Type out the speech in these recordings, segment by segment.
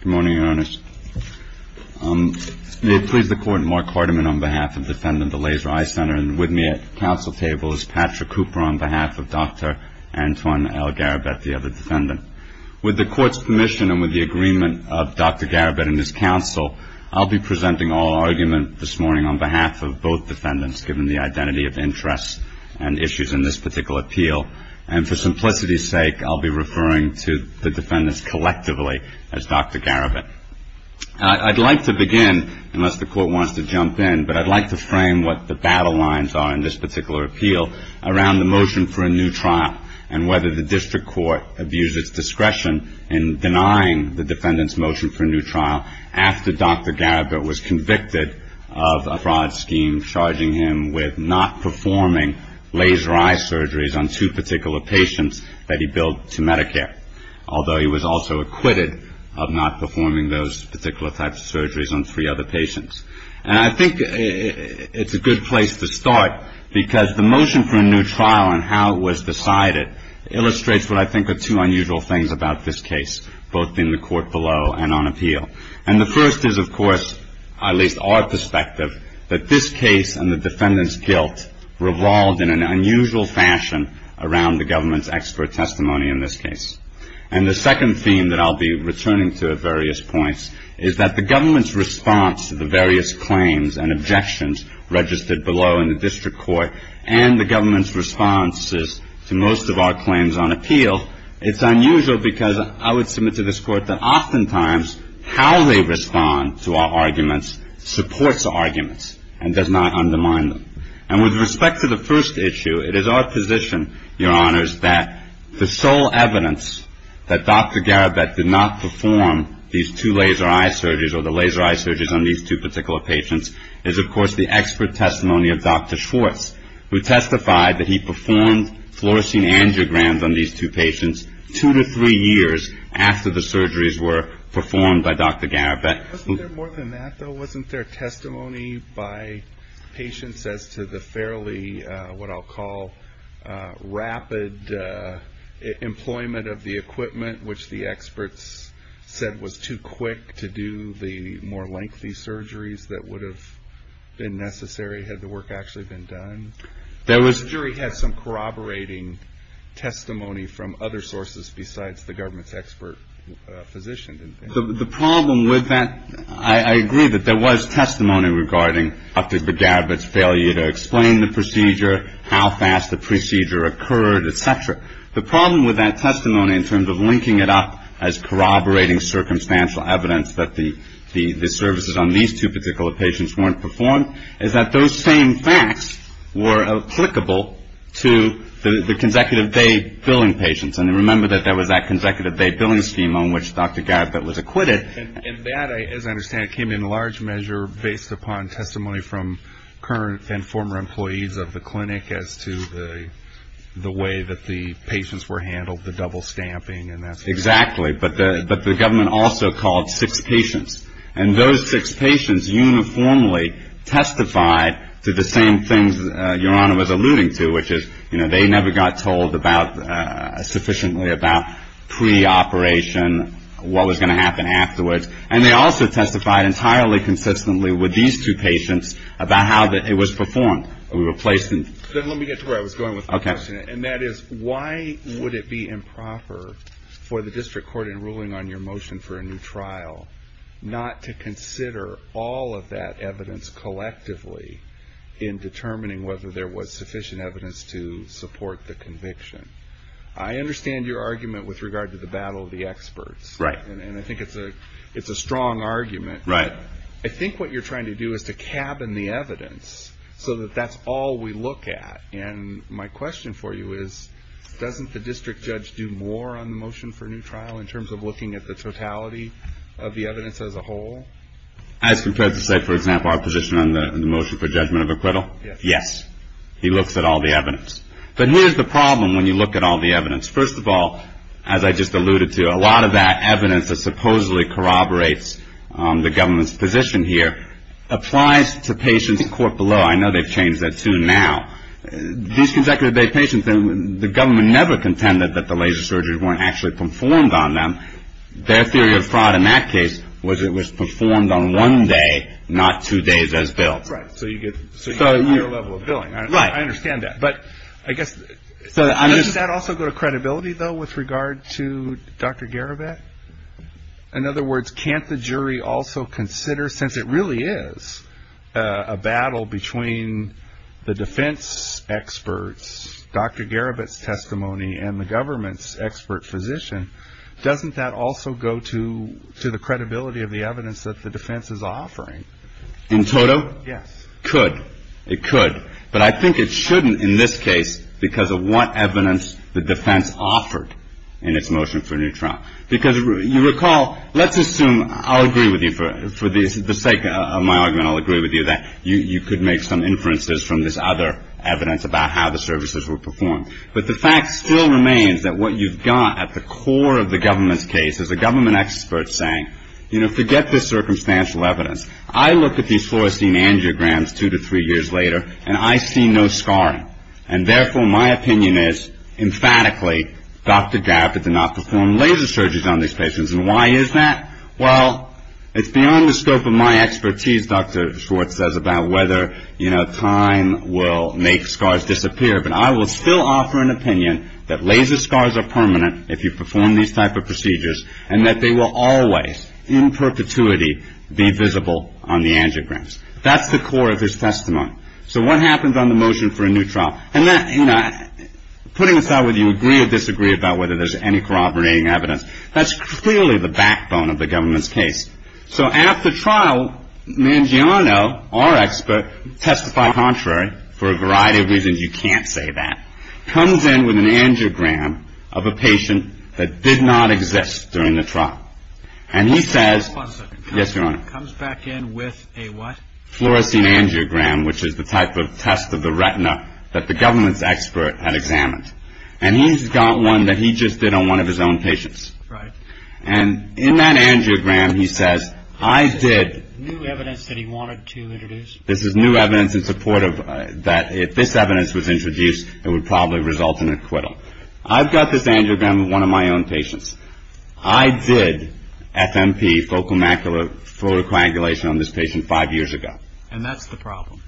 Good morning, Your Honors. May it please the Court, Mark Hardiman on behalf of Defendant of the Laser Eye Center and with me at council table is Patrick Cooper on behalf of Dr. Antoine L. Garabet, the other defendant. With the Court's permission and with the agreement of Dr. Garabet and his counsel, I'll be presenting our argument this morning on behalf of both defendants given the identity of interest and issues in this particular appeal. And for simplicity's sake, I'll be referring to the defendants collectively as Dr. Garabet. I'd like to begin, unless the Court wants to jump in, but I'd like to frame what the battle lines are in this particular appeal around the motion for a new trial and whether the district court abuses discretion in denying the defendant's motion for a new trial after Dr. Garabet was convicted of a fraud scheme charging him with not performing laser eye operations that he billed to Medicare, although he was also acquitted of not performing those particular types of surgeries on three other patients. And I think it's a good place to start because the motion for a new trial and how it was decided illustrates what I think are two unusual things about this case, both in the Court below and on appeal. And the first is, of course, at least our perspective, that this case and the defendant's guilt revolved in an unusual fashion around the government's expert testimony in this case. And the second theme that I'll be returning to at various points is that the government's response to the various claims and objections registered below in the district court and the government's responses to most of our claims on appeal, it's unusual because I would submit to this Court that oftentimes how they respond to our arguments supports the arguments and does not undermine them. And with respect to the first issue, it is our position, Your Honors, that the sole evidence that Dr. Garabet did not perform these two laser eye surgeries or the laser eye surgeries on these two particular patients is, of course, the expert testimony of Dr. Schwartz, who testified that he performed fluorescing angiograms on these two patients two to three years after the surgeries were performed by Dr. Garabet. Wasn't there more than that, though? Wasn't there testimony by patients as to the fairly, what I'll call, rapid employment of the equipment, which the experts said was too quick to do the more lengthy surgeries that would have been necessary had the work actually been done? That was The jury had some corroborating testimony from other sources besides the government's expert physician, didn't they? The problem with that, I agree that there was testimony regarding Dr. Garabet's failure to explain the procedure, how fast the procedure occurred, et cetera. The problem with that testimony in terms of linking it up as corroborating circumstantial evidence that the services on these two particular patients weren't performed is that those same facts were applicable to the consecutive day billing patients. And remember that there was that consecutive day billing scheme on which Dr. Garabet was acquitted. And that, as I understand, came in large measure based upon testimony from current and former employees of the clinic as to the way that the patients were handled, the double stamping and that sort of thing. Exactly. But the government also called six patients. And those six patients uniformly testified to the same things Your Honor was alluding to, which is they never got told about sufficiently about pre-operation, what was going to happen afterwards. And they also testified entirely consistently with these two patients about how it was performed. Let me get to where I was going with my question. And that is why would it be improper for the district court in ruling on your motion for a new trial not to consider all of that evidence collectively in determining whether there was sufficient evidence to support the conviction? I understand your argument with regard to the battle of the experts. Right. And I think it's a strong argument. Right. I think what you're trying to do is to cabin the evidence so that that's all we look at. And my question for you is, doesn't the district judge do more on the motion for a new trial in terms of looking at the totality of the evidence as a whole? As compared to say, for example, our position on the motion for judgment of acquittal? Yes. Yes. He looks at all the evidence. But here's the problem when you look at all the evidence. First of all, as I just alluded to, a lot of that evidence that supposedly corroborates the government's position here applies to patients in court below. I know they've changed that soon now. These consecutive day patients, the government never contended that the laser surgeries weren't actually performed on them. Their theory of fraud in that case was it was performed on one day, not two days as billed. Right. So you get a higher level of billing. I understand that. But I guess, doesn't that also go to credibility, though, with regard to Dr. Garibet? In other words, can't the jury also consider, since it really is a battle between the defense experts, Dr. Garibet's testimony and the government's expert physician, doesn't that also go to the credibility of the evidence that the defense is offering? In total? Yes. Could. It could. But I think it shouldn't in this case because of what evidence the defense offered in its motion for a new trial. Because you recall, let's assume, I'll agree with you for the sake of my argument, I'll agree with you that you could make some inferences from this other evidence about how the services were performed. But the fact still remains that what you've got at the core of the government's case is a government expert saying, you know, forget this circumstantial evidence. I look at these fluorescein angiograms two to three years later, and I see no scarring. And therefore, my opinion is, emphatically, Dr. Garibet did not perform laser surgeries on these patients. And why is that? Well, it's beyond the scope of my expertise, Dr. Schwartz says, about whether, you know, time will make scars disappear. But I will still offer an opinion that laser scars are permanent if you perform these type of procedures, and that they will always, in perpetuity, be visible on the angiograms. That's the core of his testimony. So what happens on the motion for a new trial? And that, you know, putting aside whether you agree or disagree about whether there's any corroborating evidence, that's clearly the backbone of the government's case. So after trial, Mangiano, our expert, testified contrary for a variety of reasons. You can't exist during the trial. And he says, yes, Your Honor, fluorescein angiogram, which is the type of test of the retina that the government's expert had examined. And he's got one that he just did on one of his own patients. And in that angiogram, he says, I did, this is new evidence in support of that if this evidence was introduced, it would probably result in I did FMP, focal macular photocoagulation, on this patient five years ago. And that's the problem.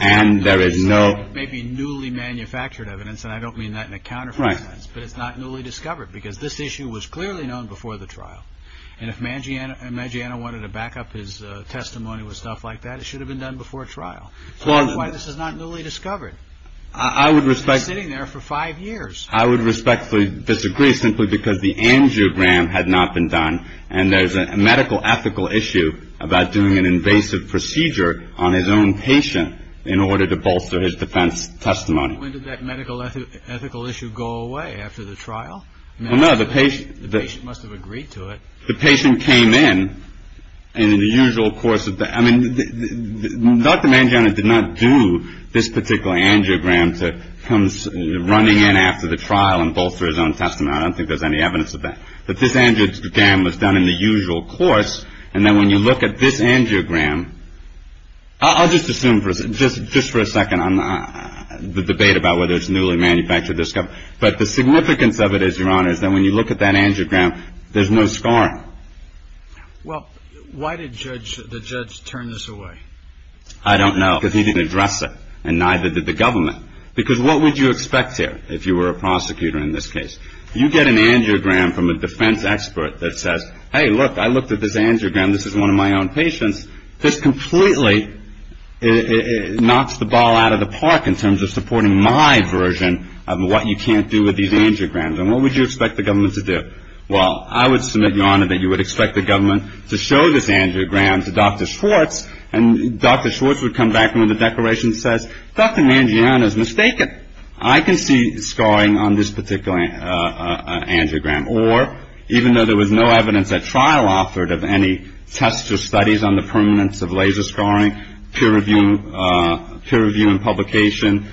And there is no... It may be newly manufactured evidence, and I don't mean that in a counterfeit sense, but it's not newly discovered, because this issue was clearly known before the trial. And if Mangiano wanted to back up his testimony with stuff like that, it should have been done before trial. That's why this is not newly discovered. I would respect... It's been sitting there for five years. I would respectfully disagree, simply because the angiogram had not been done, and there's a medical ethical issue about doing an invasive procedure on his own patient in order to bolster his defense testimony. When did that medical ethical issue go away after the trial? Well, no, the patient... The patient must have agreed to it. The patient came in, and in the usual course of... I mean, Dr. Mangiano did not do this in the usual course of the trial and bolster his own testimony. I don't think there's any evidence of that. But this angiogram was done in the usual course, and then when you look at this angiogram... I'll just assume for a second, just for a second, on the debate about whether it's newly manufactured or discovered. But the significance of it is, Your Honor, is that when you look at that angiogram, there's no scarring. Well, why did the judge turn this away? I don't know, because he didn't address it, and neither did the government. Because what would you expect here, if you were a prosecutor in this case? You get an angiogram from a defense expert that says, hey, look, I looked at this angiogram. This is one of my own patients. This completely knocks the ball out of the park in terms of supporting my version of what you can't do with these angiograms, and what would you expect the government to do? Well, I would submit, Your Honor, that you would expect the government to show this angiogram to Dr. Schwartz, and Dr. Schwartz would come back and, with a declaration, says, Dr. Mangiano's mistaken. I can see scarring on this particular angiogram. Or, even though there was no evidence at trial offered of any tests or studies on the permanence of laser scarring, peer review and publication,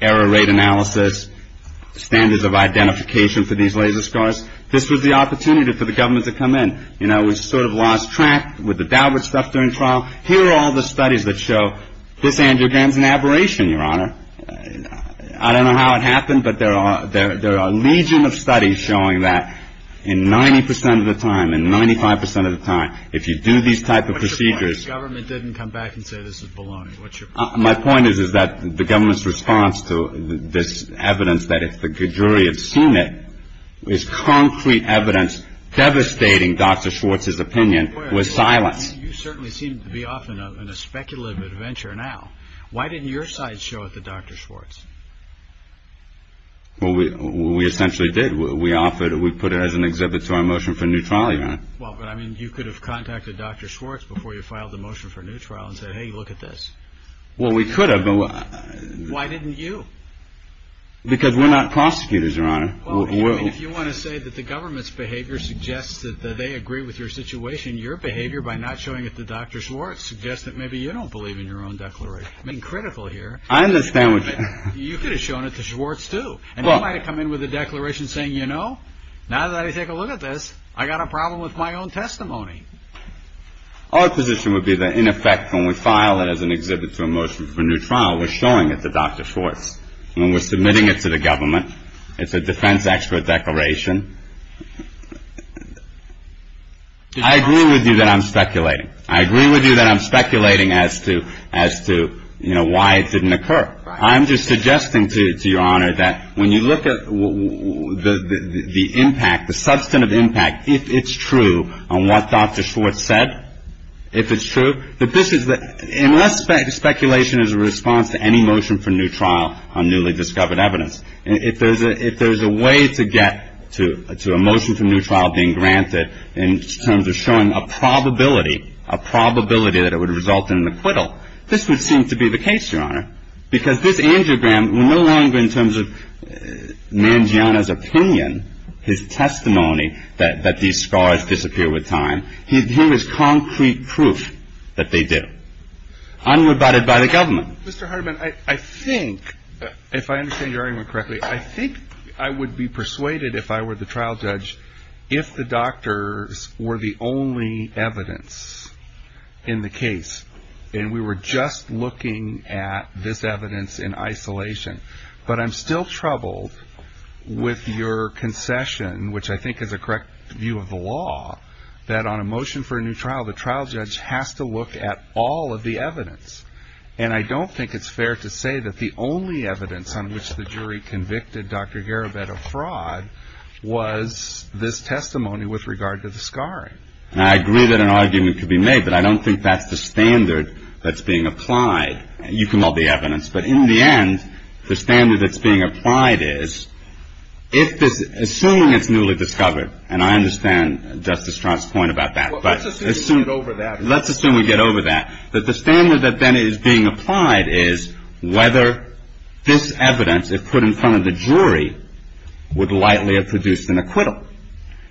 error rate analysis, standards of identification for these laser scars, this was the opportunity for the government to come in. You know, we sort of lost track with the Daubert stuff during trial. Here are all the studies that show this angiogram's an aberration, Your Honor. I don't know how it happened, but there are a legion of studies showing that in 90 percent of the time, in 95 percent of the time, if you do these type of procedures. What's your point? If the government didn't come back and say this is baloney, what's your point? My point is that the government's response to this evidence, that if the jury had seen it, is concrete evidence devastating Dr. Schwartz's opinion with silence. You certainly seem to be off on a speculative adventure now. Why didn't your side show it to Dr. Schwartz? We essentially did. We offered, we put it as an exhibit to our motion for new trial, Your Honor. Well, but I mean, you could have contacted Dr. Schwartz before you filed the motion for new trial and said, hey, look at this. Well, we could have. Why didn't you? Because we're not prosecutors, Your Honor. Well, I mean, if you want to say that the government's behavior suggests that they agree with your situation, your behavior by not showing it to Dr. Schwartz suggests that maybe you don't believe in your own declaration. I mean, critical here. I understand what you're saying. You could have shown it to Schwartz, too, and he might have come in with a declaration saying, you know, now that I take a look at this, I got a problem with my own testimony. Our position would be that, in effect, when we file it as an exhibit to a motion for new trial, we're showing it to Dr. Schwartz, and we're submitting it to the government. It's a defense expert declaration. I agree with you that I'm speculating. I agree with you that I'm speculating as to, you know, why it didn't occur. I'm just suggesting to Your Honor that when you look at the impact, the substantive impact, if it's true on what Dr. Schwartz said, if it's true, that this is the, unless speculation is a response to any motion for new trial on newly discovered evidence, and if there's a way to get to a motion for new trial being granted in terms of showing a probability, a probability that it would result in an acquittal, this would seem to be the case, Your Honor, because this angiogram, no longer in terms of Mangiana's opinion, his testimony that these scars disappear with time, here is concrete proof that they do. Unrebutted by the government. Mr. Hardiman, I think, if I understand your argument correctly, I think I would be persuaded if I were the trial judge, if the doctors were the only evidence in the case, and we were just looking at this evidence in isolation, but I'm still troubled with your concession, which I think is a correct view of the law, that on a motion for a new trial, the trial judge has all of the evidence, and I don't think it's fair to say that the only evidence on which the jury convicted Dr. Garibed of fraud was this testimony with regard to the scarring. And I agree that an argument could be made, but I don't think that's the standard that's being applied. You can hold the evidence, but in the end, the standard that's being applied is, if this, assuming it's newly discovered, and I understand Justice Strunk's point about that, but let's assume we get over that, that the standard that then is being applied is whether this evidence, if put in front of the jury, would likely have produced an acquittal.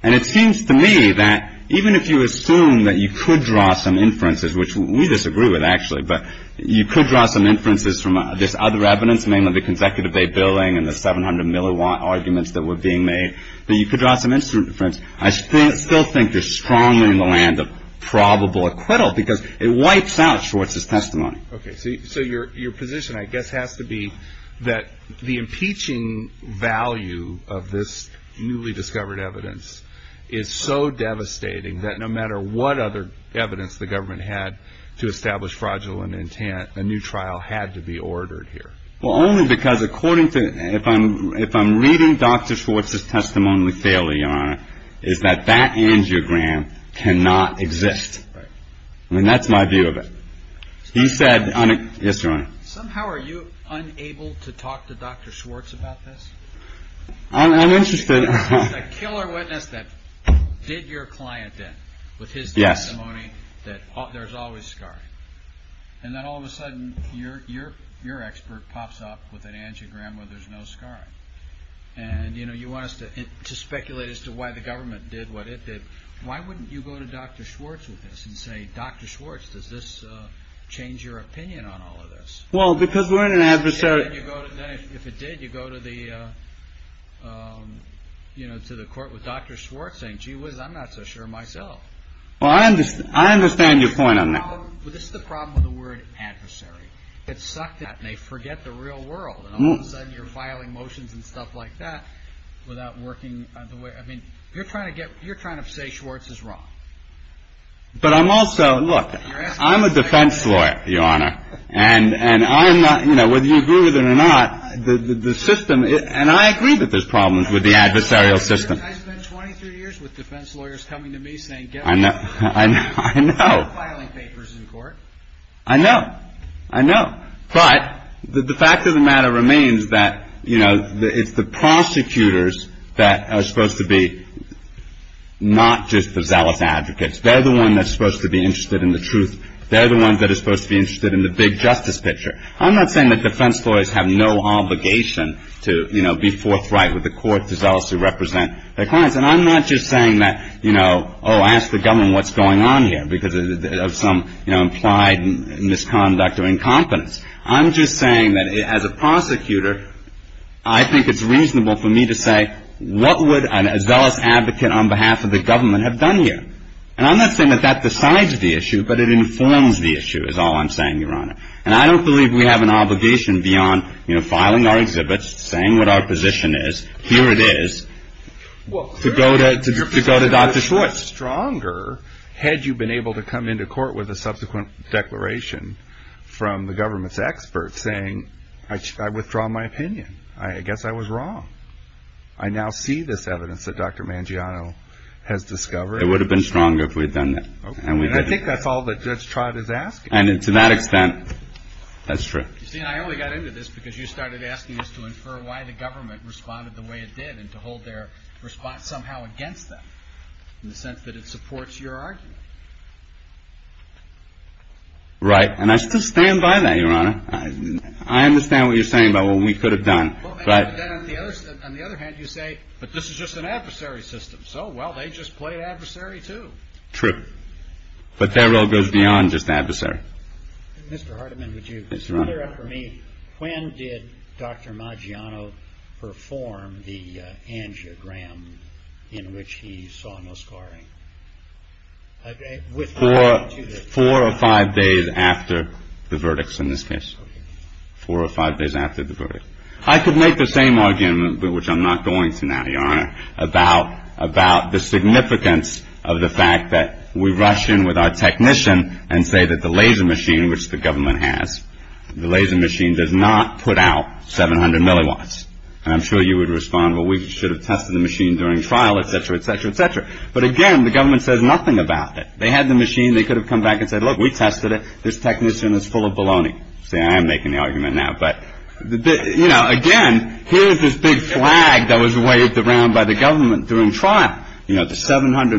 And it seems to me that even if you assume that you could draw some inferences, which we disagree with, actually, but you could draw some inferences from this other evidence, mainly the consecutive day billing and the 700 milliwatt arguments that were being made, that you could draw some inferences, I still think they're strongly in the land of probable acquittal because it wipes out Schwartz's testimony. Okay, so your position, I guess, has to be that the impeaching value of this newly discovered evidence is so devastating that no matter what other evidence the government had to establish fraudulent intent, a new trial had to be ordered here. Well, only because according to, if I'm reading Dr. Schwartz's testimony fairly, Your Honor, is that that angiogram cannot exist. Right. And that's my view of it. He said, yes, Your Honor. Somehow are you unable to talk to Dr. Schwartz about this? I'm interested. He's a killer witness that did your client in with his testimony that there's always an angiogram where there's no scarring. And you want us to speculate as to why the government did what it did. Why wouldn't you go to Dr. Schwartz with this and say, Dr. Schwartz, does this change your opinion on all of this? Well, because we're in an adversary... If it did, you'd go to the court with Dr. Schwartz saying, gee whiz, I'm not so sure myself. Well, I understand your point on that. This is the problem with the word adversary. It's sucked in and they forget the real world. And all of a sudden you're filing motions and stuff like that without working the way... I mean, you're trying to say Schwartz is wrong. But I'm also... Look, I'm a defense lawyer, Your Honor. And I'm not... You know, whether you agree with it or not, the system... And I agree that there's problems with the adversarial system. I spent 23 years with defense lawyers coming to me saying, get out of here. I know. I'm not filing papers in court. I know. I know. But the fact of the matter remains that, you know, it's the prosecutors that are supposed to be not just the zealous advocates. They're the ones that are supposed to be interested in the truth. They're the ones that are supposed to be interested in the big justice picture. I'm not saying that defense lawyers have no obligation to, you know, be forthright with the court to zealously represent their clients. And I'm not just saying that, you know, oh, ask the government what's going on here because of some, you know, implied misconduct or incompetence. I'm just saying that as a prosecutor, I think it's reasonable for me to say, what would a zealous advocate on behalf of the government have done here? And I'm not saying that that decides the issue, but it informs the issue is all I'm saying, Your Honor. And I don't believe we have an obligation beyond, you know, filing our exhibits, saying what our position is, here it is, to go to Dr. Schwartz. How much stronger had you been able to come into court with a subsequent declaration from the government's experts saying, I withdraw my opinion, I guess I was wrong. I now see this evidence that Dr. Mangiano has discovered. It would have been stronger if we had done that. And I think that's all that Judge Trott is asking. And to that extent, that's true. You see, and I only got into this because you started asking us to infer why the government responded the way it did, and to hold their response somehow against them, in the sense that it supports your argument. Right. And I still stand by that, Your Honor. I understand what you're saying about what we could have done. But on the other hand, you say, but this is just an adversary system. So, well, they just played adversary, too. True. But that role goes beyond just adversary. Mr. Hardiman, would you clear up for me, when did Dr. Mangiano perform the angiogram in which he saw no scarring? Four or five days after the verdicts, in this case. Four or five days after the verdict. I could make the same argument, which I'm not going to now, Your Honor, about the significance of the fact that we rush in with our technician and say that the laser machine, which the government has, the laser machine does not put out 700 milliwatts. And I'm sure you would respond, well, we should have tested the machine during trial, et cetera, et cetera, et cetera. But again, the government says nothing about it. They had the machine. They could have come back and said, look, we tested it. This technician is full of baloney. See, I am making the argument now, but, you know, again, here's this big flag that was 700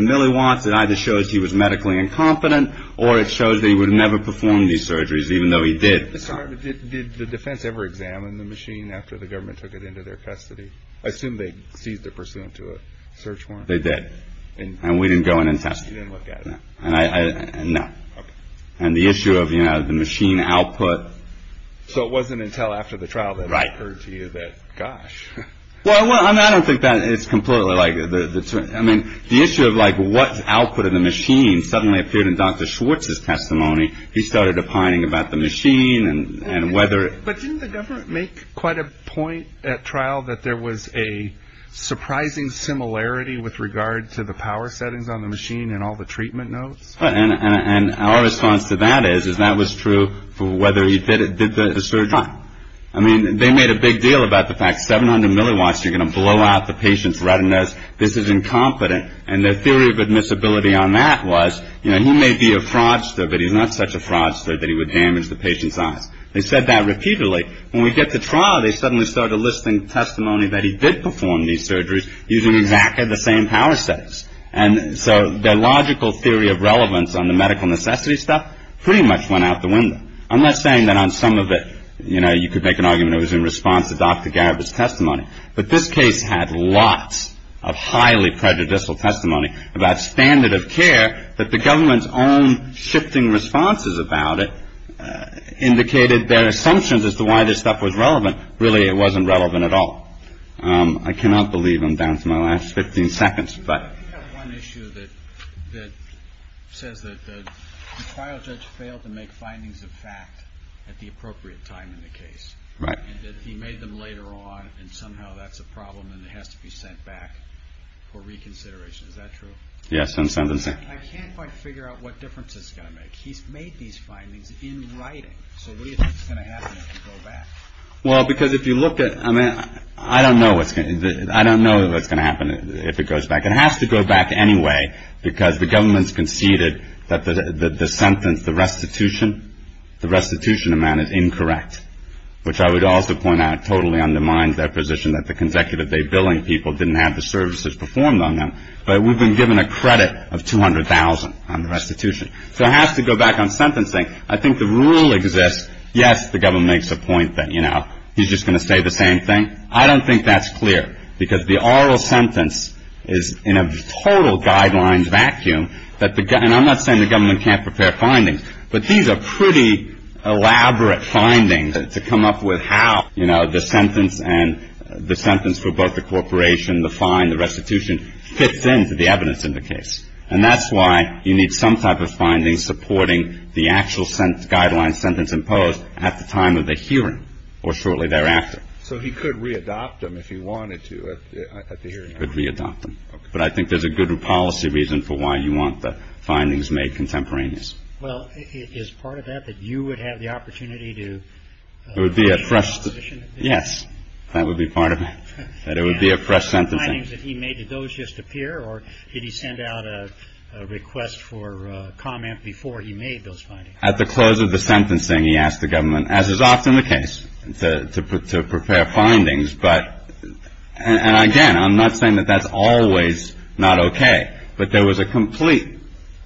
milliwatts. It either shows he was medically incompetent or it shows that he would have never performed these surgeries, even though he did. Mr. Hardiman, did the defense ever examine the machine after the government took it into their custody? I assume they seized it pursuant to a search warrant. And we didn't go in and test it. So you didn't look at it? No. No. Okay. And the issue of, you know, the machine output. So it wasn't until after the trial that it occurred to you that, gosh. Well, I don't think that it's completely like the I mean, the issue of like what output of the machine suddenly appeared in Dr. Schwartz's testimony. He started opining about the machine and whether it didn't make quite a point at trial that there was a surprising similarity with regard to the power settings on the machine and all the treatment notes. And our response to that is, is that was true for whether he did it, did the surgery. I mean, they made a big deal about the fact 700 milliwatts, you're going to blow out the patient's retinas. This is incompetent. And the theory of admissibility on that was, you know, he may be a fraudster, but he's not such a fraudster that he would damage the patient's eyes. They said that repeatedly. When we get to trial, they suddenly started listing testimony that he did perform these surgeries using exactly the same power settings. And so their logical theory of relevance on the medical necessity stuff pretty much went out the window. I'm not saying that on some of it, you know, you could make an argument it was in response to Dr. Garib's testimony, but this case had lots of highly prejudicial testimony about standard of care that the government's own shifting responses about it indicated their assumptions as to why this stuff was relevant. Really, it wasn't relevant at all. I cannot believe I'm down to my last 15 seconds, but. I do have one issue that says that the trial judge failed to make findings of fact at the appropriate time in the case, and that he made them later on, and somehow that's a problem and it has to be sent back for reconsideration. Is that true? Yes. I can't quite figure out what difference it's going to make. He's made these findings in writing. So what do you think is going to happen if you go back? Well, because if you look at, I mean, I don't know what's going to happen if it goes back. It has to go back anyway, because the government's conceded that the sentence, the restitution, the restitution amount is incorrect, which I would also point out totally undermines their position that the consecutive day billing people didn't have the services performed on them. But we've been given a credit of $200,000 on the restitution. So it has to go back on sentencing. I think the rule exists. Yes, the government makes a point that, you know, he's just going to say the same thing. And I don't think that's clear, because the oral sentence is in a total guidelines vacuum. And I'm not saying the government can't prepare findings, but these are pretty elaborate findings to come up with how, you know, the sentence and the sentence for both the corporation, the fine, the restitution, fits into the evidence in the case. And that's why you need some type of finding supporting the actual guideline sentence imposed at the time of the hearing or shortly thereafter. So he could readopt them if he wanted to at the hearing? He could readopt them. Okay. But I think there's a good policy reason for why you want the findings made contemporaneous. Well, is part of that that you would have the opportunity to... It would be a fresh... Yes, that would be part of it, that it would be a fresh sentencing. And the findings that he made, did those just appear, or did he send out a request for comment before he made those findings? At the close of the sentencing, he asked the government, as is often the case, to prepare findings. But, and again, I'm not saying that that's always not okay, but there was a complete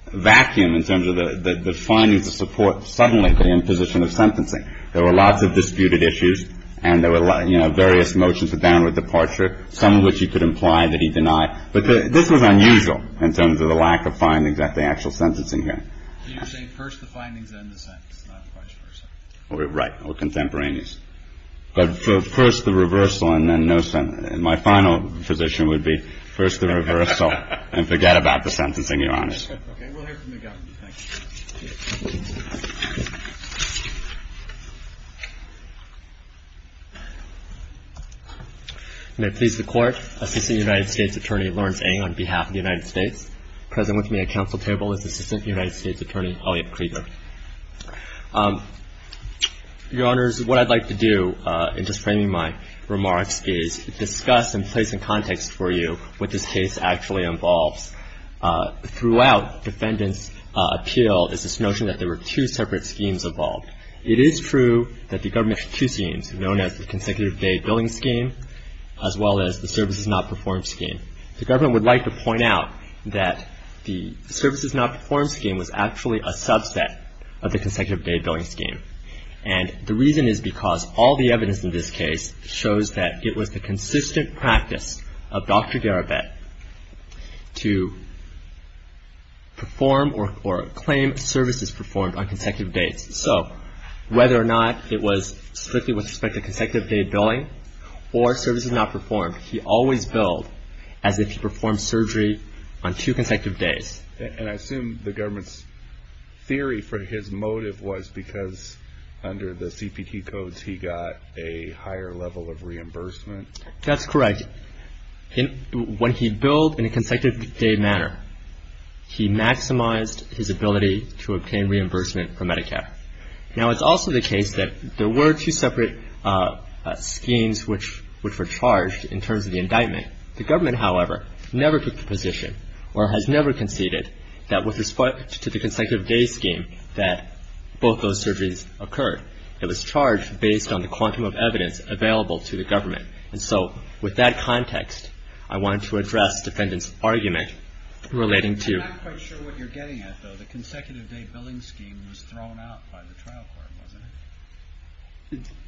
vacuum in terms of the findings to support suddenly the imposition of sentencing. There were lots of disputed issues, and there were, you know, various motions of downward departure, some of which he could imply that he denied. But this was unusual in terms of the lack of findings at the actual sentencing hearing. So you're saying first the findings, then the sentencing, not the vice versa? Right, or contemporaneous. But first the reversal, and then no sentencing. And my final position would be, first the reversal, and forget about the sentencing, Your Honor. Okay, we'll hear from the government. Thank you. May it please the Court, Assistant United States Attorney Lawrence Ng on behalf of the United States, present with me at council table is Assistant United States Attorney Elliot Krieger. Your Honors, what I'd like to do, in just framing my remarks, is discuss and place in context for you what this case actually involves. Throughout the defendant's appeal is this notion that there were two separate schemes involved. It is true that the government has two schemes, known as the consecutive day billing scheme, as well as the services not performed scheme. The government would like to point out that the services not performed scheme was actually a subset of the consecutive day billing scheme. And the reason is because all the evidence in this case shows that it was the consistent practice of Dr. Garibet to perform or claim services performed on consecutive dates. So whether or not it was strictly with respect to consecutive day billing or services not performed, he always billed as if he performed surgery on two consecutive days. And I assume the government's theory for his motive was because under the CPT codes, he got a higher level of reimbursement? That's correct. When he billed in a consecutive day manner, he maximized his ability to obtain reimbursement from Medicare. Now, it's also the case that there were two separate schemes which were charged in terms of the indictment. The government, however, never took the position or has never conceded that with respect to the consecutive day scheme that both those surgeries occurred. It was charged based on the quantum of evidence available to the government. And so with that context, I wanted to address the defendant's argument relating to the consecutive day billing scheme. It was thrown out by the trial court, wasn't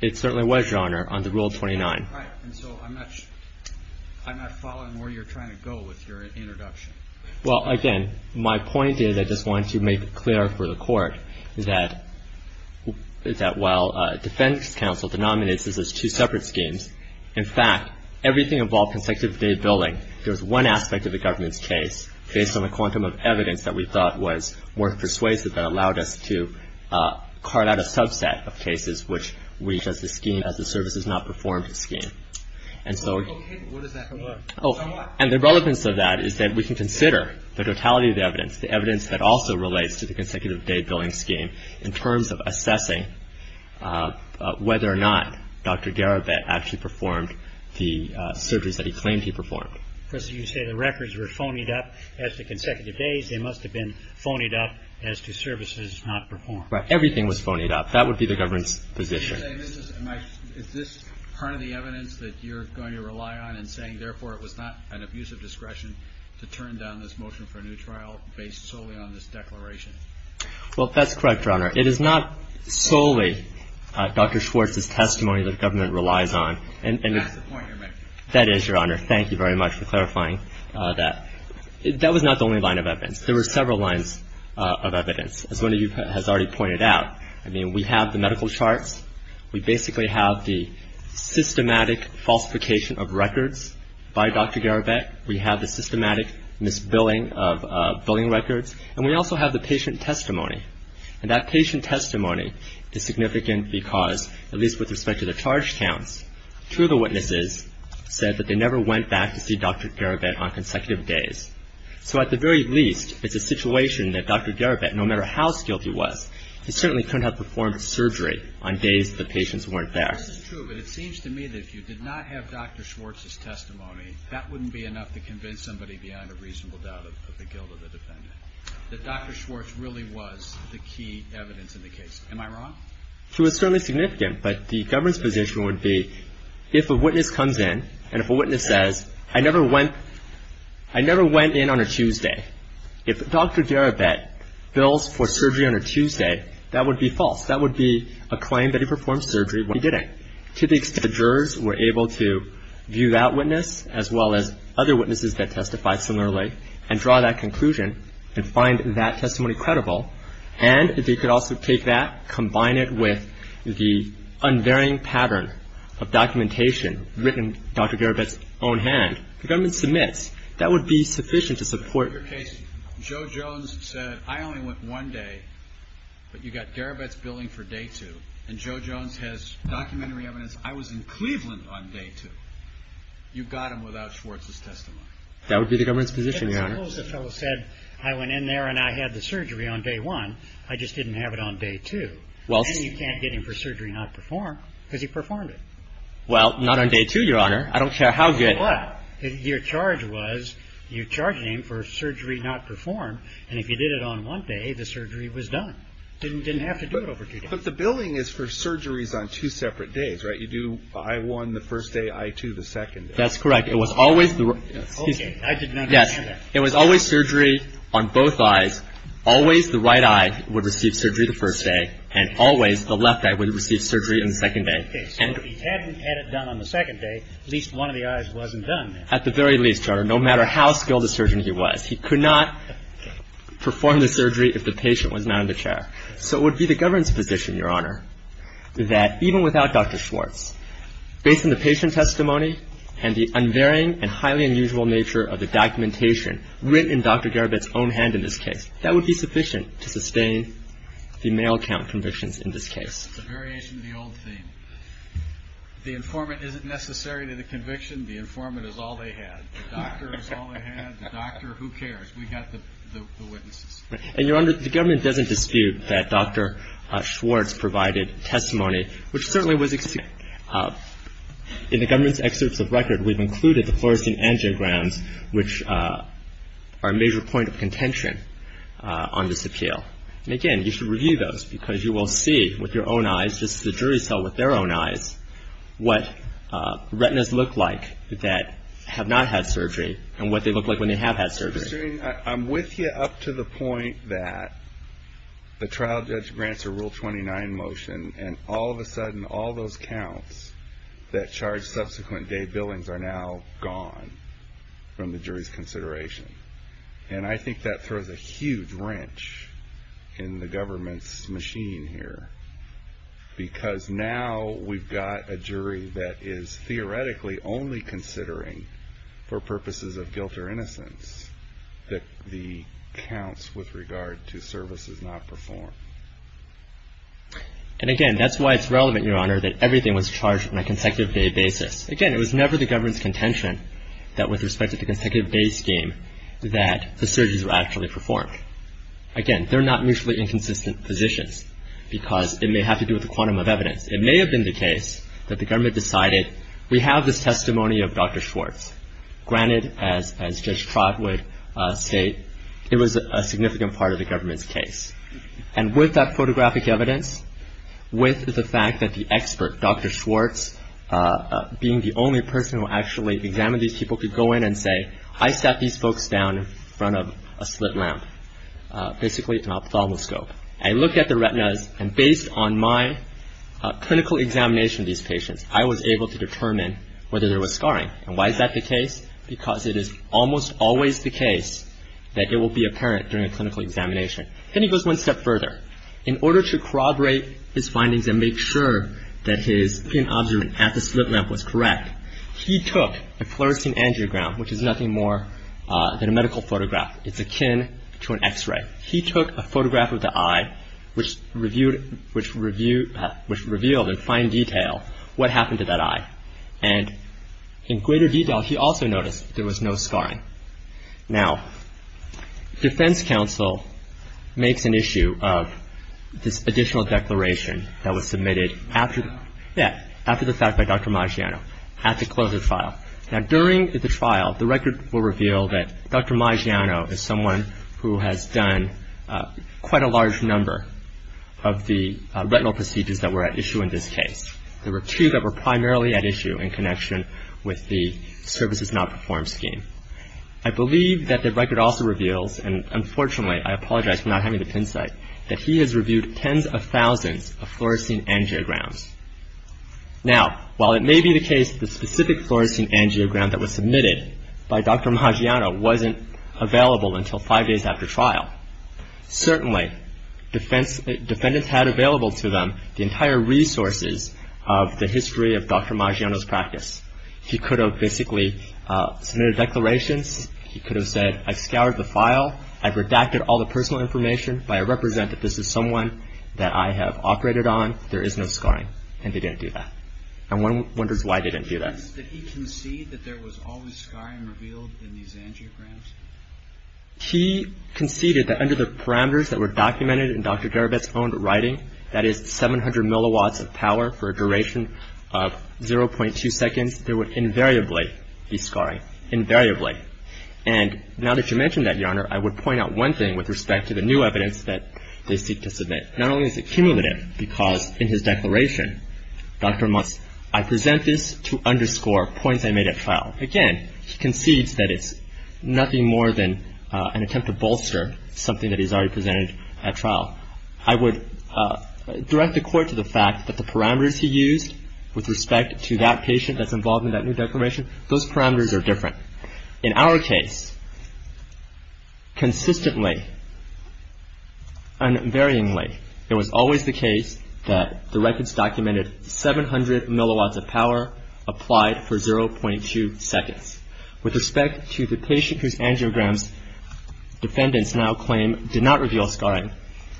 it? It certainly was, Your Honor, under Rule 29. Right. And so I'm not following where you're trying to go with your introduction. Well, again, my point is I just wanted to make it clear for the Court that while defendants' counsel denominates this as two separate schemes, in fact, everything involving consecutive day billing, that we thought was worth persuasive that allowed us to cart out a subset of cases which we just esteem as the services not performed scheme. And so the relevance of that is that we can consider the totality of the evidence, the evidence that also relates to the consecutive day billing scheme in terms of assessing whether or not Dr. Garibet actually performed the surgeries that he claimed he performed. Because you say the records were phonied up as to consecutive days. They must have been phonied up as to services not performed. Right. Everything was phonied up. That would be the government's position. Is this part of the evidence that you're going to rely on in saying, therefore, it was not an abuse of discretion to turn down this motion for a new trial based solely on this declaration? Well, that's correct, Your Honor. It is not solely Dr. Schwartz's testimony that the government relies on. That's the point you're making. That is, Your Honor. Thank you very much for clarifying that. That was not the only line of evidence. There were several lines of evidence, as one of you has already pointed out. I mean, we have the medical charts. We basically have the systematic falsification of records by Dr. Garibet. We have the systematic misbilling of billing records. And we also have the patient testimony. And that patient testimony is significant because, at least with respect to the charge counts, two of the witnesses said that they never went back to see Dr. Garibet on consecutive days. So at the very least, it's a situation that Dr. Garibet, no matter how skilled he was, he certainly couldn't have performed surgery on days the patients weren't there. This is true, but it seems to me that if you did not have Dr. Schwartz's testimony, that wouldn't be enough to convince somebody beyond a reasonable doubt of the guilt of the defendant, that Dr. Schwartz really was the key evidence in the case. Am I wrong? It was certainly significant, but the government's position would be if a witness comes in and if a witness says, I never went in on a Tuesday, if Dr. Garibet bills for surgery on a Tuesday, that would be false. That would be a claim that he performed surgery when he didn't. To the extent that the jurors were able to view that witness, as well as other witnesses that testified similarly, and draw that conclusion and find that testimony credible, and if they could also take that, combine it with the unvarying pattern of documentation written Dr. Garibet's own hand, the government submits. That would be sufficient to support your case. Joe Jones said, I only went one day, but you got Garibet's billing for day two, and Joe Jones has documentary evidence I was in Cleveland on day two. You got him without Schwartz's testimony. That would be the government's position, Your Honor. I suppose the fellow said, I went in there and I had the surgery on day one. I just didn't have it on day two. Then you can't get him for surgery not performed, because he performed it. Well, not on day two, Your Honor. I don't care how good. But your charge was you charged him for surgery not performed, and if you did it on one day, the surgery was done. Didn't have to do it over two days. But the billing is for surgeries on two separate days, right? You do I-1 the first day, I-2 the second day. That's correct. It was always the – Okay. I did not understand that. It was always surgery on both eyes. Always the right eye would receive surgery the first day, and always the left eye would receive surgery on the second day. Okay. So if he hadn't had it done on the second day, at least one of the eyes wasn't done. At the very least, Your Honor, no matter how skilled a surgeon he was. He could not perform the surgery if the patient was not in the chair. So it would be the government's position, Your Honor, that even without Dr. Schwartz, based on the patient testimony and the unvarying and highly unusual nature of the documentation written in Dr. Garabit's own hand in this case, that would be sufficient to sustain the male count convictions in this case. It's a variation of the old theme. The informant isn't necessary to the conviction. The informant is all they had. The doctor is all they had. The doctor, who cares? We got the witnesses. And, Your Honor, the government doesn't dispute that Dr. Schwartz provided testimony, which certainly was exceeding. In the government's excerpts of record, we've included the fluorescent angiograms, which are a major point of contention on this appeal. And, again, you should review those because you will see with your own eyes, just as the jury saw with their own eyes, what retinas look like that have not had surgery and what they look like when they have had surgery. I'm with you up to the point that the trial judge grants a Rule 29 motion, and all of a sudden all those counts that charge subsequent day billings are now gone from the jury's consideration. And I think that throws a huge wrench in the government's machine here because now we've got a jury that is theoretically only considering, for purposes of guilt or innocence, the counts with regard to services not performed. And, again, that's why it's relevant, Your Honor, that everything was charged on a consecutive day basis. Again, it was never the government's contention that, with respect to the consecutive day scheme, that the surgeries were actually performed. Again, they're not mutually inconsistent positions because it may have to do with a quantum of evidence. It may have been the case that the government decided we have this testimony of Dr. Schwartz. Granted, as Judge Trott would state, it was a significant part of the government's case. And with that photographic evidence, with the fact that the expert, Dr. Schwartz, being the only person who actually examined these people, could go in and say, I sat these folks down in front of a slit lamp, basically an ophthalmoscope. I looked at the retinas, and based on my clinical examination of these patients, I was able to determine whether there was scarring. And why is that the case? Because it is almost always the case that it will be apparent during a clinical examination. Then he goes one step further. In order to corroborate his findings and make sure that his opinion at the slit lamp was correct, he took a fluorescing angiogram, which is nothing more than a medical photograph. It's akin to an X-ray. He took a photograph of the eye, which revealed in fine detail what happened to that eye. And in greater detail, he also noticed there was no scarring. Now, defense counsel makes an issue of this additional declaration that was submitted after the fact by Dr. Maggiano. He had to close the trial. Now, during the trial, the record will reveal that Dr. Maggiano is someone who has done quite a large number of the retinal procedures that were at issue in this case. There were two that were primarily at issue in connection with the services not performed scheme. I believe that the record also reveals, and unfortunately I apologize for not having the pin site, that he has reviewed tens of thousands of fluorescing angiograms. Now, while it may be the case that the specific fluorescing angiogram that was submitted by Dr. Maggiano wasn't available until five days after trial, certainly defendants had available to them the entire resources of the history of Dr. Maggiano's practice. He could have basically submitted declarations. He could have said, I've scoured the file. I've redacted all the personal information, but I represent that this is someone that I have operated on. There is no scarring, and they didn't do that. And one wonders why they didn't do that. He conceded that there was always scarring revealed in these angiograms? He conceded that under the parameters that were documented in Dr. Darabetz's own writing, that is 700 milliwatts of power for a duration of 0.2 seconds, there would invariably be scarring. Invariably. And now that you mention that, Your Honor, I would point out one thing with respect to the new evidence that they seek to submit. Not only is it cumulative, because in his declaration, Dr. Musk, I present this to underscore points I made at trial. Again, he concedes that it's nothing more than an attempt to bolster something that he's already presented at trial. I would direct the Court to the fact that the parameters he used with respect to that patient that's involved in that new declaration, those parameters are different. In our case, consistently, unvaryingly, it was always the case that the records documented 700 milliwatts of power applied for 0.2 seconds. With respect to the patient whose angiograms defendants now claim did not reveal scarring,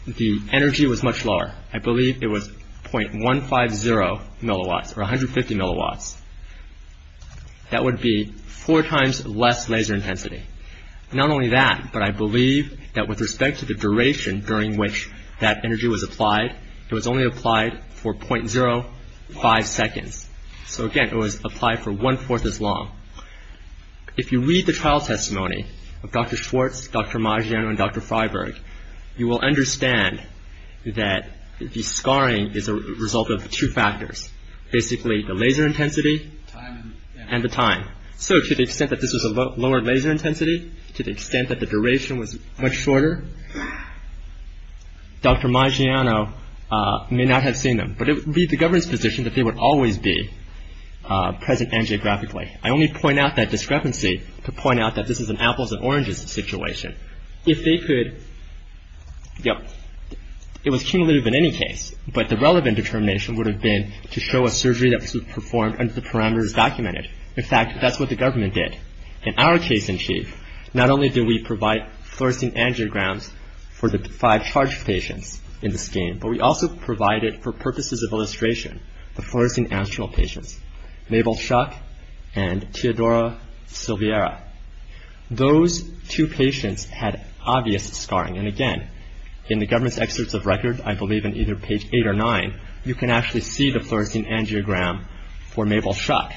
the energy was much lower. I believe it was 0.150 milliwatts or 150 milliwatts. That would be four times less laser intensity. Not only that, but I believe that with respect to the duration during which that energy was applied, it was only applied for 0.05 seconds. So, again, it was applied for one-fourth as long. If you read the trial testimony of Dr. Schwartz, Dr. Maggiano, and Dr. Freiberg, you will understand that the scarring is a result of two factors, basically the laser intensity and the time. So to the extent that this was a lower laser intensity, to the extent that the duration was much shorter, Dr. Maggiano may not have seen them. But it would be the Governor's position that they would always be present angiographically. I only point out that discrepancy to point out that this is an apples and oranges situation. If they could, you know, it was cumulative in any case, but the relevant determination would have been to show a surgery that was performed under the parameters documented. In fact, that's what the government did. In our case in chief, not only did we provide fluorescing angiograms for the five charge patients in the scheme, but we also provided, for purposes of illustration, the fluorescing astral patients, Mabel Shuck and Teodora Silveira. Those two patients had obvious scarring. And again, in the government's excerpts of record, I believe on either page eight or nine, you can actually see the fluorescing angiogram for Mabel Shuck.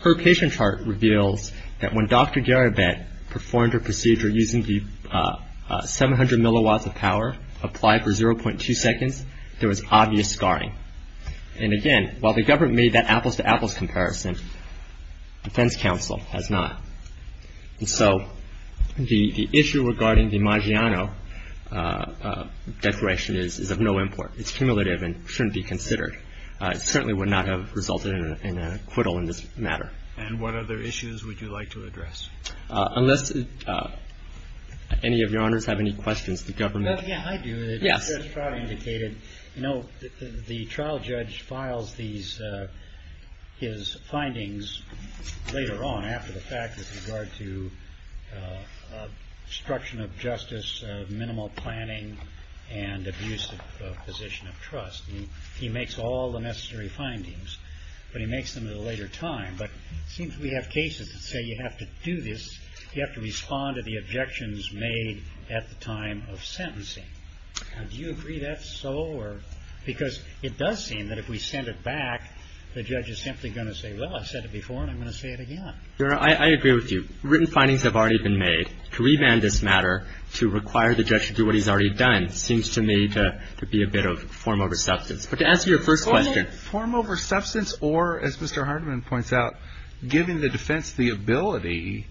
Her patient chart reveals that when Dr. Garibet performed her procedure using the 700 milliwatts of power applied for 0.2 seconds, there was obvious scarring. And again, while the government made that apples to apples comparison, defense counsel has not. And so the issue regarding the Maggiano declaration is of no import. It's cumulative and shouldn't be considered. It certainly would not have resulted in an acquittal in this matter. And what other issues would you like to address? Unless any of your honors have any questions, the government. Yeah, I do. The trial judge files his findings later on after the fact with regard to obstruction of justice, minimal planning, and abuse of position of trust. He makes all the necessary findings, but he makes them at a later time. But it seems we have cases that say you have to do this, you have to respond to the objections made at the time of sentencing. Do you agree that's so? Because it does seem that if we send it back, the judge is simply going to say, well, I said it before, and I'm going to say it again. I agree with you. Written findings have already been made. To remand this matter, to require the judge to do what he's already done seems to me to be a bit of form over substance. But to answer your first question. Is it form over substance or, as Mr. Hardiman points out, giving the defense the ability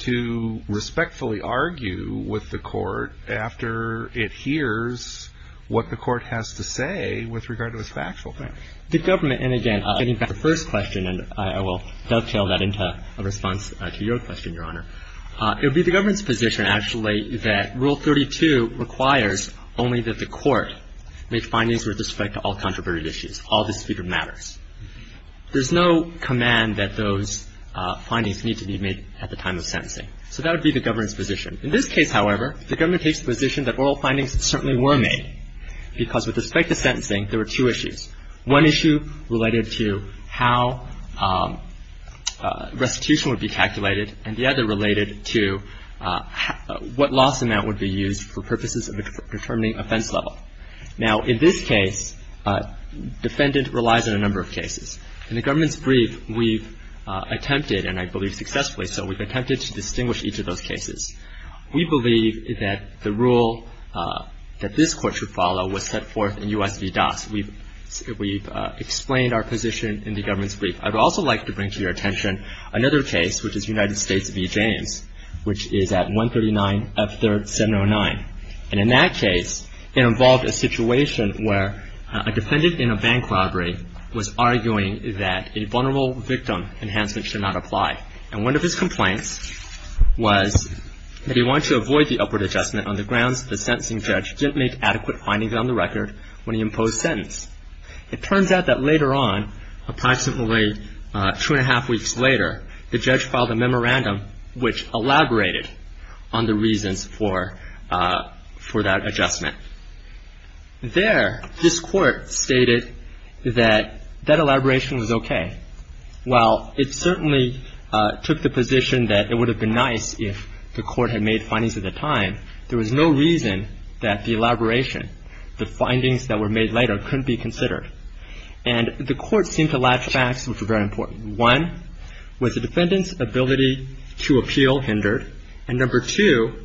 to respectfully argue with the court after it hears what the court has to say with regard to its factual facts? The government, and again, getting back to the first question, and I will dovetail that into a response to your question, Your Honor. It would be the government's position, actually, that Rule 32 requires only that the court make findings with respect to all There's no command that those findings need to be made at the time of sentencing. So that would be the government's position. In this case, however, the government takes the position that oral findings certainly were made because with respect to sentencing, there were two issues, one issue related to how restitution would be calculated and the other related to what loss amount would be used for purposes of determining offense level. Now, in this case, defendant relies on a number of cases. In the government's brief, we've attempted, and I believe successfully so, we've attempted to distinguish each of those cases. We believe that the rule that this court should follow was set forth in U.S. v. DAS. We've explained our position in the government's brief. I would also like to bring to your attention another case, which is United States v. James, which is at 139 F. 3rd, 709. And in that case, it involved a situation where a defendant in a bank robbery was arguing that a vulnerable victim enhancement should not apply. And one of his complaints was that he wanted to avoid the upward adjustment on the grounds that the sentencing judge didn't make adequate findings on the record when he imposed sentence. It turns out that later on, approximately two and a half weeks later, the judge filed a memorandum which elaborated on the reasons for that adjustment. There, this court stated that that elaboration was okay. While it certainly took the position that it would have been nice if the court had made findings at the time, there was no reason that the elaboration, the findings that were made later, couldn't be considered. And the court seemed to latch on to some very important ones. One, was the defendant's ability to appeal hindered? And number two,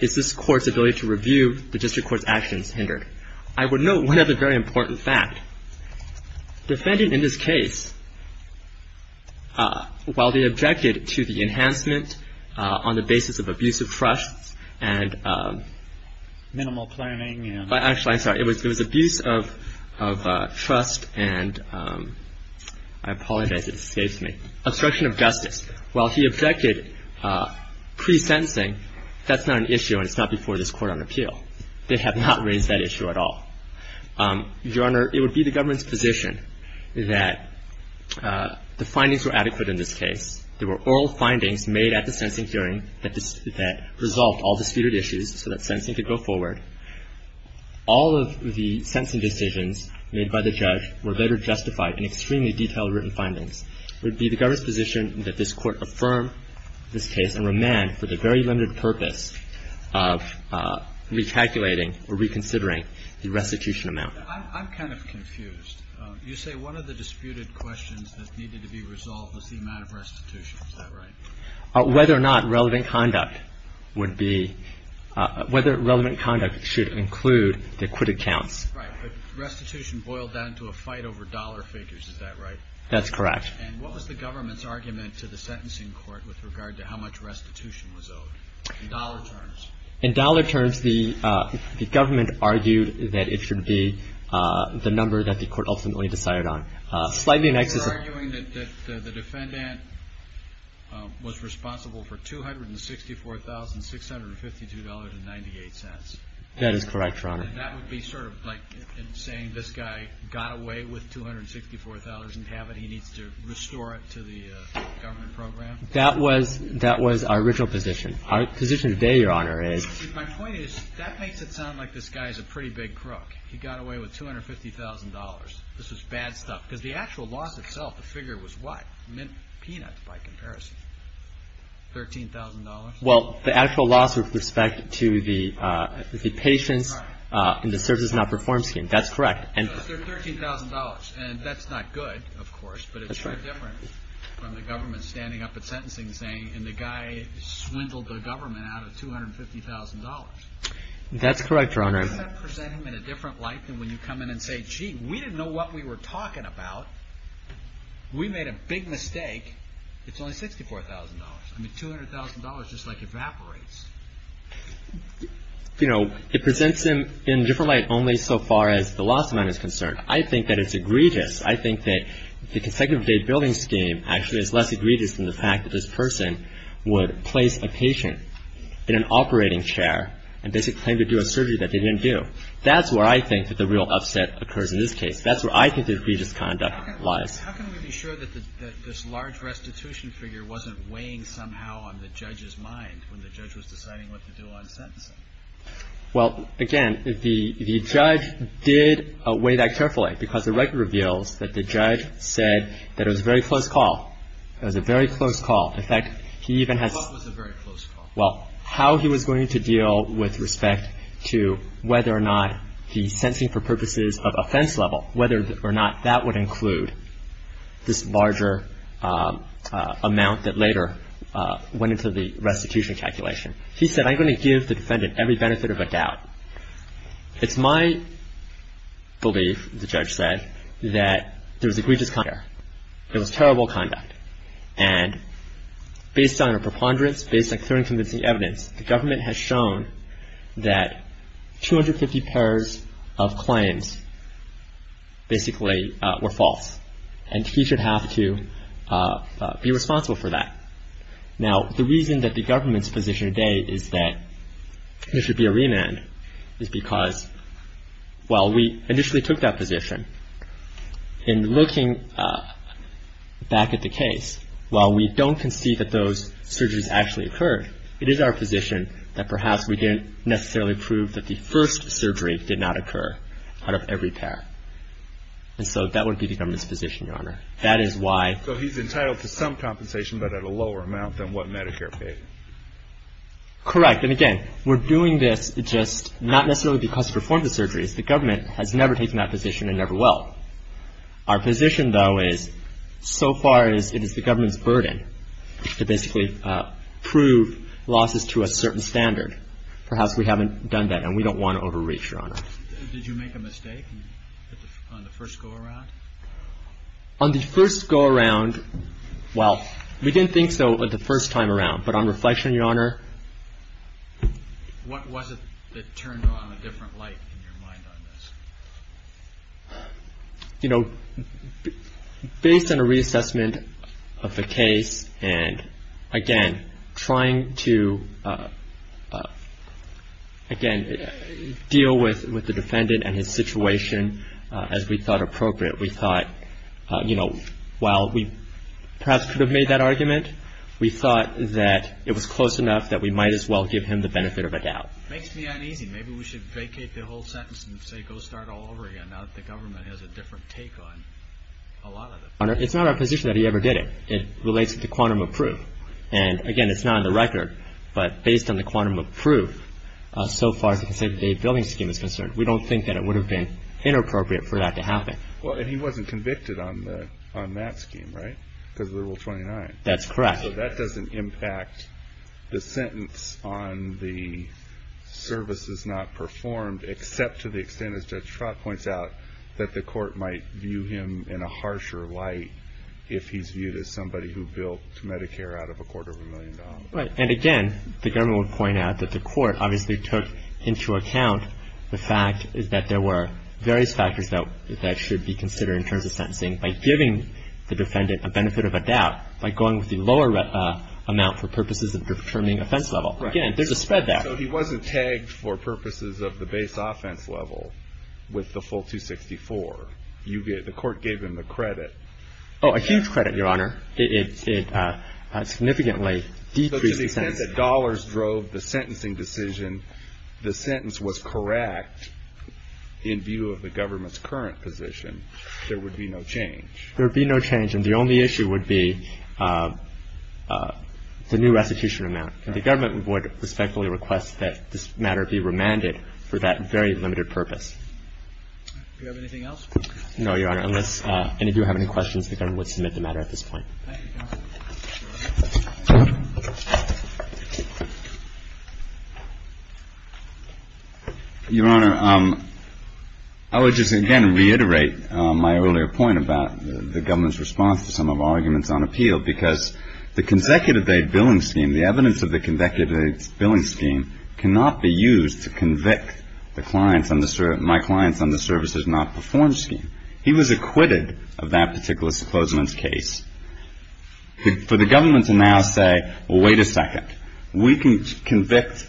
is this court's ability to review the district court's actions hindered? I would note one other very important fact. Defending in this case, while they objected to the enhancement on the basis of abusive trusts and — I apologize. It escapes me. Obstruction of justice. While he objected pre-sentencing, that's not an issue and it's not before this Court on Appeal. They have not raised that issue at all. Your Honor, it would be the government's position that the findings were adequate in this case. There were oral findings made at the sentencing hearing that resolved all disputed issues so that sentencing could go forward. All of the sentencing decisions made by the judge were later justified in extremely detailed written findings. It would be the government's position that this Court affirm this case and remand for the very limited purpose of recalculating or reconsidering the restitution amount. I'm kind of confused. You say one of the disputed questions that needed to be resolved was the amount of restitution. Is that right? Whether or not relevant conduct would be — whether relevant conduct should include the acquitted counts. Right. But restitution boiled down to a fight over dollar figures. Is that right? That's correct. And what was the government's argument to the sentencing court with regard to how much restitution was owed in dollar terms? In dollar terms, the government argued that it should be the number that the court ultimately decided on. You're arguing that the defendant was responsible for $264,652.98. That is correct, Your Honor. And that would be sort of like saying this guy got away with $264 and have it. He needs to restore it to the government program. That was our original position. Our position today, Your Honor, is — My point is that makes it sound like this guy is a pretty big crook. He got away with $250,000. This was bad stuff. Because the actual loss itself, the figure was what? Mint peanuts, by comparison. $13,000? Well, the actual loss with respect to the patients and the services not performed scheme. That's correct. So it's $13,000. And that's not good, of course. That's right. But it's very different from the government standing up at sentencing saying, That's correct, Your Honor. How does that present him in a different light than when you come in and say, Gee, we didn't know what we were talking about. We made a big mistake. It's only $64,000. I mean, $200,000 just, like, evaporates. You know, it presents him in a different light only so far as the loss amount is concerned. I think that it's egregious. I think that the consecutive date building scheme actually is less egregious than the fact that this person would place a patient in an operating chair and basically claim to do a surgery that they didn't do. That's where I think that the real upset occurs in this case. That's where I think the egregious conduct lies. How can we be sure that this large restitution figure wasn't weighing somehow on the judge's mind when the judge was deciding what to do on sentencing? Well, again, the judge did weigh that carefully, because the record reveals that the judge said that it was a very close call. It was a very close call. In fact, he even has — What was a very close call? Well, how he was going to deal with respect to whether or not the sentencing for purposes of offense level, whether or not that would include this larger amount that later went into the restitution calculation. He said, I'm going to give the defendant every benefit of a doubt. It's my belief, the judge said, that there was egregious conduct there. There was terrible conduct. And based on our preponderance, based on clear and convincing evidence, the government has shown that 250 pairs of claims basically were false. And he should have to be responsible for that. Now, the reason that the government's position today is that there should be a remand is because, well, we initially took that position. In looking back at the case, while we don't concede that those surgeries actually occurred, it is our position that perhaps we didn't necessarily prove that the first surgery did not occur out of every pair. And so that would be the government's position, Your Honor. That is why — So he's entitled to some compensation, but at a lower amount than what Medicare paid. Correct. And, again, we're doing this just not necessarily because we performed the surgeries. The government has never taken that position and never will. Our position, though, is so far it is the government's burden to basically prove losses to a certain standard. Perhaps we haven't done that, and we don't want to overreach, Your Honor. Did you make a mistake on the first go-around? On the first go-around, well, we didn't think so the first time around. But on reflection, Your Honor. What was it that turned on a different light in your mind on this? You know, based on a reassessment of the case, and, again, trying to, again, deal with the defendant and his situation as we thought appropriate. We thought, you know, while we perhaps could have made that argument, we thought that it was close enough that we might as well give him the benefit of a doubt. It makes me uneasy. Maybe we should vacate the whole sentence and say go start all over again, now that the government has a different take on a lot of this. Your Honor, it's not our position that he ever did it. It relates to the quantum of proof. And, again, it's not on the record, but based on the quantum of proof, so far as the conservative-aid billing scheme is concerned, we don't think that it would have been inappropriate for that to happen. Well, and he wasn't convicted on that scheme, right? Because of the Rule 29. That's correct. So that doesn't impact the sentence on the services not performed, except to the extent, as Judge Trott points out, that the court might view him in a harsher light if he's viewed as somebody who built Medicare out of a quarter of a million dollars. Right. And, again, the government would point out that the court obviously took into account the fact is that there were various factors that should be considered in terms of sentencing by giving the defendant a benefit of a doubt, by going with the lower amount for purposes of determining offense level. Right. Again, there's a spread there. So he wasn't tagged for purposes of the base offense level with the full 264. The court gave him the credit. Oh, a huge credit, Your Honor. It significantly decreased the sentence. If, again, the dollars drove the sentencing decision, the sentence was correct in view of the government's current position, there would be no change. There would be no change. And the only issue would be the new restitution amount. And the government would respectfully request that this matter be remanded for that very limited purpose. Do we have anything else? No, Your Honor. Unless any of you have any questions, the government would submit the matter at this point. Thank you, counsel. Your Honor, I would just, again, reiterate my earlier point about the government's response to some of our arguments on appeal, because the consecutive-day billing scheme, the evidence of the consecutive-day billing scheme, cannot be used to convict my client's under-services-not-performed scheme. He was acquitted of that particular supposement's case. For the government to now say, well, wait a second, we can convict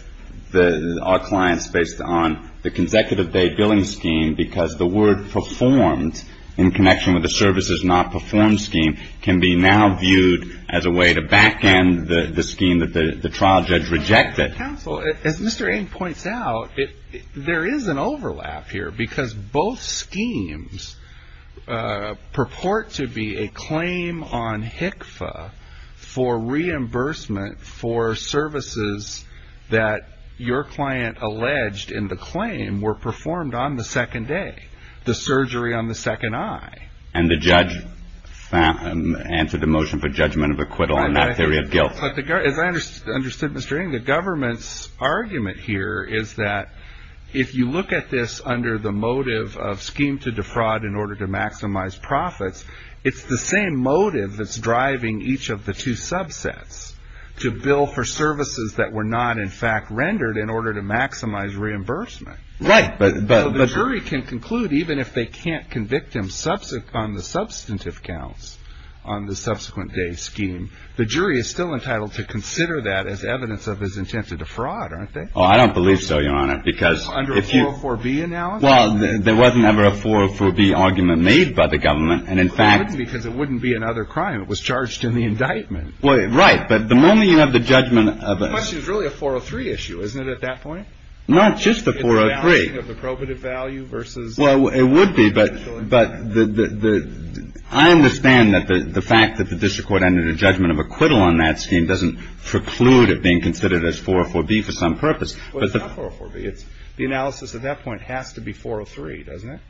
our clients based on the consecutive-day billing scheme because the word performed in connection with the services-not-performed scheme can be now viewed as a way to back-end the scheme that the trial judge rejected. Counsel, as Mr. Ame points out, there is an overlap here, because both schemes purport to be a claim on HCFA for reimbursement for services that your client alleged in the claim were performed on the second day, the surgery on the second eye. And the judge answered the motion for judgment of acquittal on that theory of guilt. As I understood, Mr. Ame, the government's argument here is that if you look at this under the motive of scheme to defraud in order to maximize profits, it's the same motive that's driving each of the two subsets to bill for services that were not, in fact, rendered in order to maximize reimbursement. Right. The jury can conclude, even if they can't convict him on the substantive counts on the subsequent-day scheme, the jury is still entitled to consider that as evidence of his intent to defraud, aren't they? Oh, I don't believe so, Your Honor, because if you- Under a 404B analysis? Well, there wasn't ever a 404B argument made by the government. And in fact- Because it wouldn't be another crime. It was charged in the indictment. Right. But the moment you have the judgment of- The question is really a 403 issue, isn't it, at that point? Not just a 403. It's a balancing of the probative value versus- Well, it would be. But I understand that the fact that the district court entered a judgment of acquittal on that scheme doesn't preclude it being considered as 404B for some purpose. Well, it's not 404B. The analysis at that point has to be 403, doesn't it?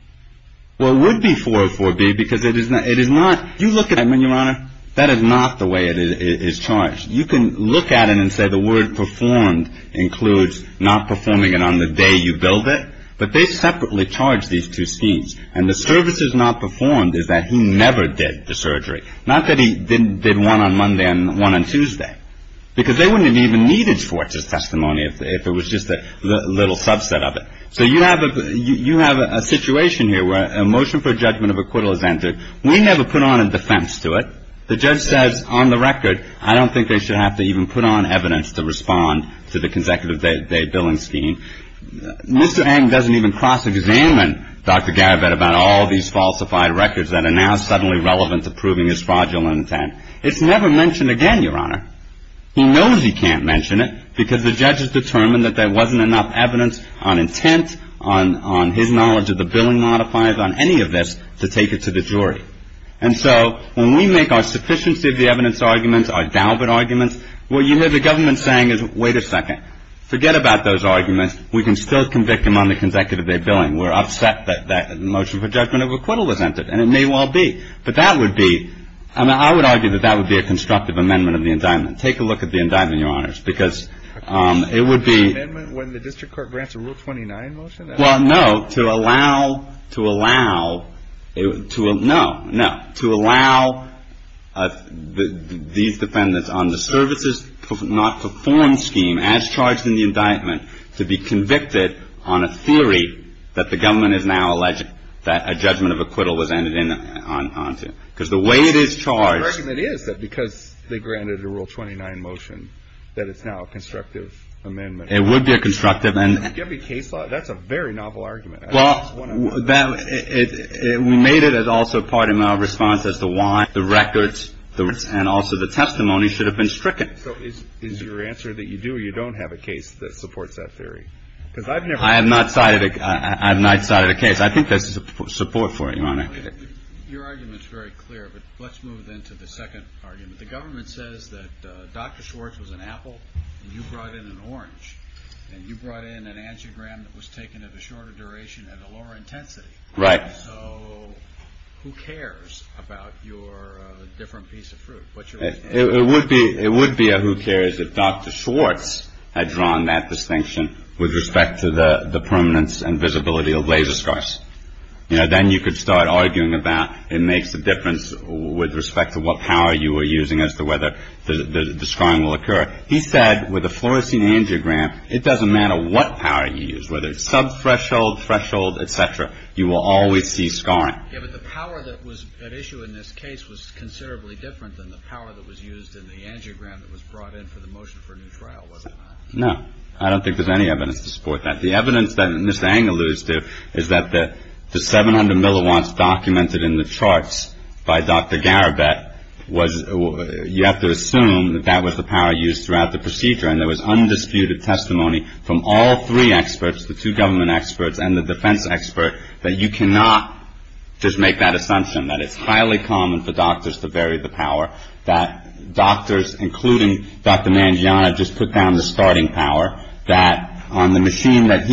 Well, it would be 404B because it is not- You look at it, Edmund, Your Honor. That is not the way it is charged. You can look at it and say the word performed includes not performing it on the day you billed it. But they separately charge these two schemes. And the service is not performed is that he never did the surgery. Not that he did one on Monday and one on Tuesday. Because they wouldn't have even needed Schwartz's testimony if it was just a little subset of it. So you have a situation here where a motion for judgment of acquittal is entered. We never put on a defense to it. The judge says on the record I don't think they should have to even put on evidence to respond to the consecutive day billing scheme. Mr. Eng doesn't even cross-examine Dr. Garibet about all of these falsified records that are now suddenly relevant to proving his fraudulent intent. It's never mentioned again, Your Honor. He knows he can't mention it because the judge has determined that there wasn't enough evidence on intent, on his knowledge of the billing modifiers, on any of this to take it to the jury. And so when we make our sufficiency of the evidence arguments, our Dalbert arguments, what you hear the government saying is wait a second. Forget about those arguments. We can still convict him on the consecutive day billing. We're upset that that motion for judgment of acquittal was entered. And it may well be. But that would be – I mean, I would argue that that would be a constructive amendment of the indictment. Take a look at the indictment, Your Honors, because it would be – An amendment when the district court grants a Rule 29 motion? Well, no. To allow – to allow – no, no. To allow these defendants on the services not performed scheme as charged in the indictment to be convicted on a theory that the government has now alleged that a judgment of acquittal was entered onto. Because the way it is charged – But the argument is that because they granted a Rule 29 motion that it's now a constructive amendment. It would be a constructive – That's a very novel argument. Well, that – we made it as also part of our response as to why the records and also the testimony should have been stricken. So is your answer that you do or you don't have a case that supports that theory? Because I've never – I have not cited a case. I think there's support for it, Your Honor. Your argument is very clear. But let's move into the second argument. The government says that Dr. Schwartz was an apple and you brought in an orange. And you brought in an angiogram that was taken at a shorter duration at a lower intensity. Right. So who cares about your different piece of fruit? It would be a who cares if Dr. Schwartz had drawn that distinction with respect to the permanence and visibility of laser scars. Then you could start arguing about it makes a difference with respect to what power you were using as to whether the scarring will occur. He said with a fluorescein angiogram, it doesn't matter what power you use, whether it's sub-threshold, threshold, et cetera. You will always see scarring. Yeah, but the power that was at issue in this case was considerably different than the power that was used in the angiogram that was brought in for the motion for a new trial, wasn't it? No. I don't think there's any evidence to support that. The evidence that Ms. Ang alludes to is that the 700 milliwatts documented in the charts by Dr. Garibet was – you have to assume that that was the power used throughout the procedure. And there was undisputed testimony from all three experts, the two government experts and the defense expert, that you cannot just make that assumption, that it's highly common for doctors to vary the power, that doctors, including Dr. Mangiana, just put down the starting power, that on the machine that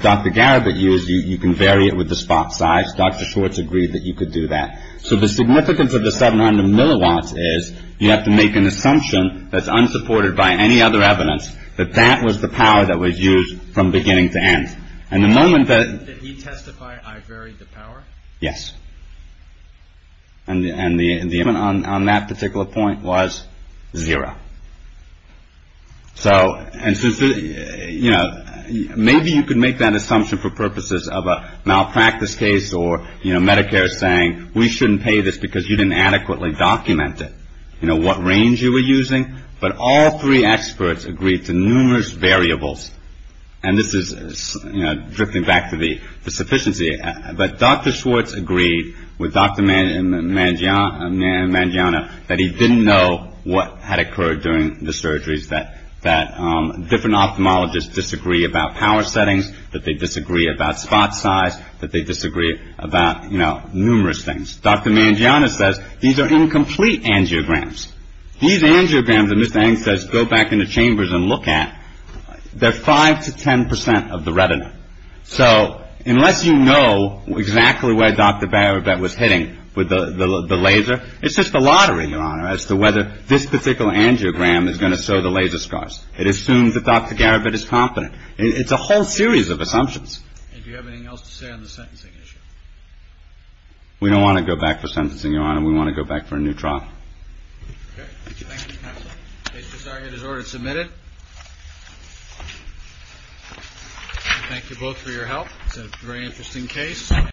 Dr. Garibet used, you can vary it with the spot size. Dr. Schwartz agreed that you could do that. So the significance of the 700 milliwatts is you have to make an assumption that's unsupported by any other evidence, that that was the power that was used from beginning to end. And the moment that – Did he testify I varied the power? Yes. And the – on that particular point was zero. So – and since – you know, maybe you could make that assumption for purposes of a malpractice case or, you know, Medicare saying we shouldn't pay this because you didn't adequately document it, you know, what range you were using. But all three experts agreed to numerous variables. And this is, you know, drifting back to the sufficiency. But Dr. Schwartz agreed with Dr. Mangiana that he didn't know what had occurred during the surgeries, that different ophthalmologists disagree about power settings, that they disagree about spot size, that they disagree about, you know, numerous things. Dr. Mangiana says these are incomplete angiograms. These angiograms, as Mr. Eng says, go back into chambers and look at, they're 5 to 10 percent of the retina. So unless you know exactly where Dr. Garibet was hitting with the laser, it's just a lottery, Your Honor, as to whether this particular angiogram is going to show the laser scars. It assumes that Dr. Garibet is competent. It's a whole series of assumptions. And do you have anything else to say on the sentencing issue? We don't want to go back for sentencing, Your Honor. We want to go back for a new trial. Okay. Thank you, Counselor. The case is argued as ordered and submitted. Thank you both for your help. It's a very interesting case.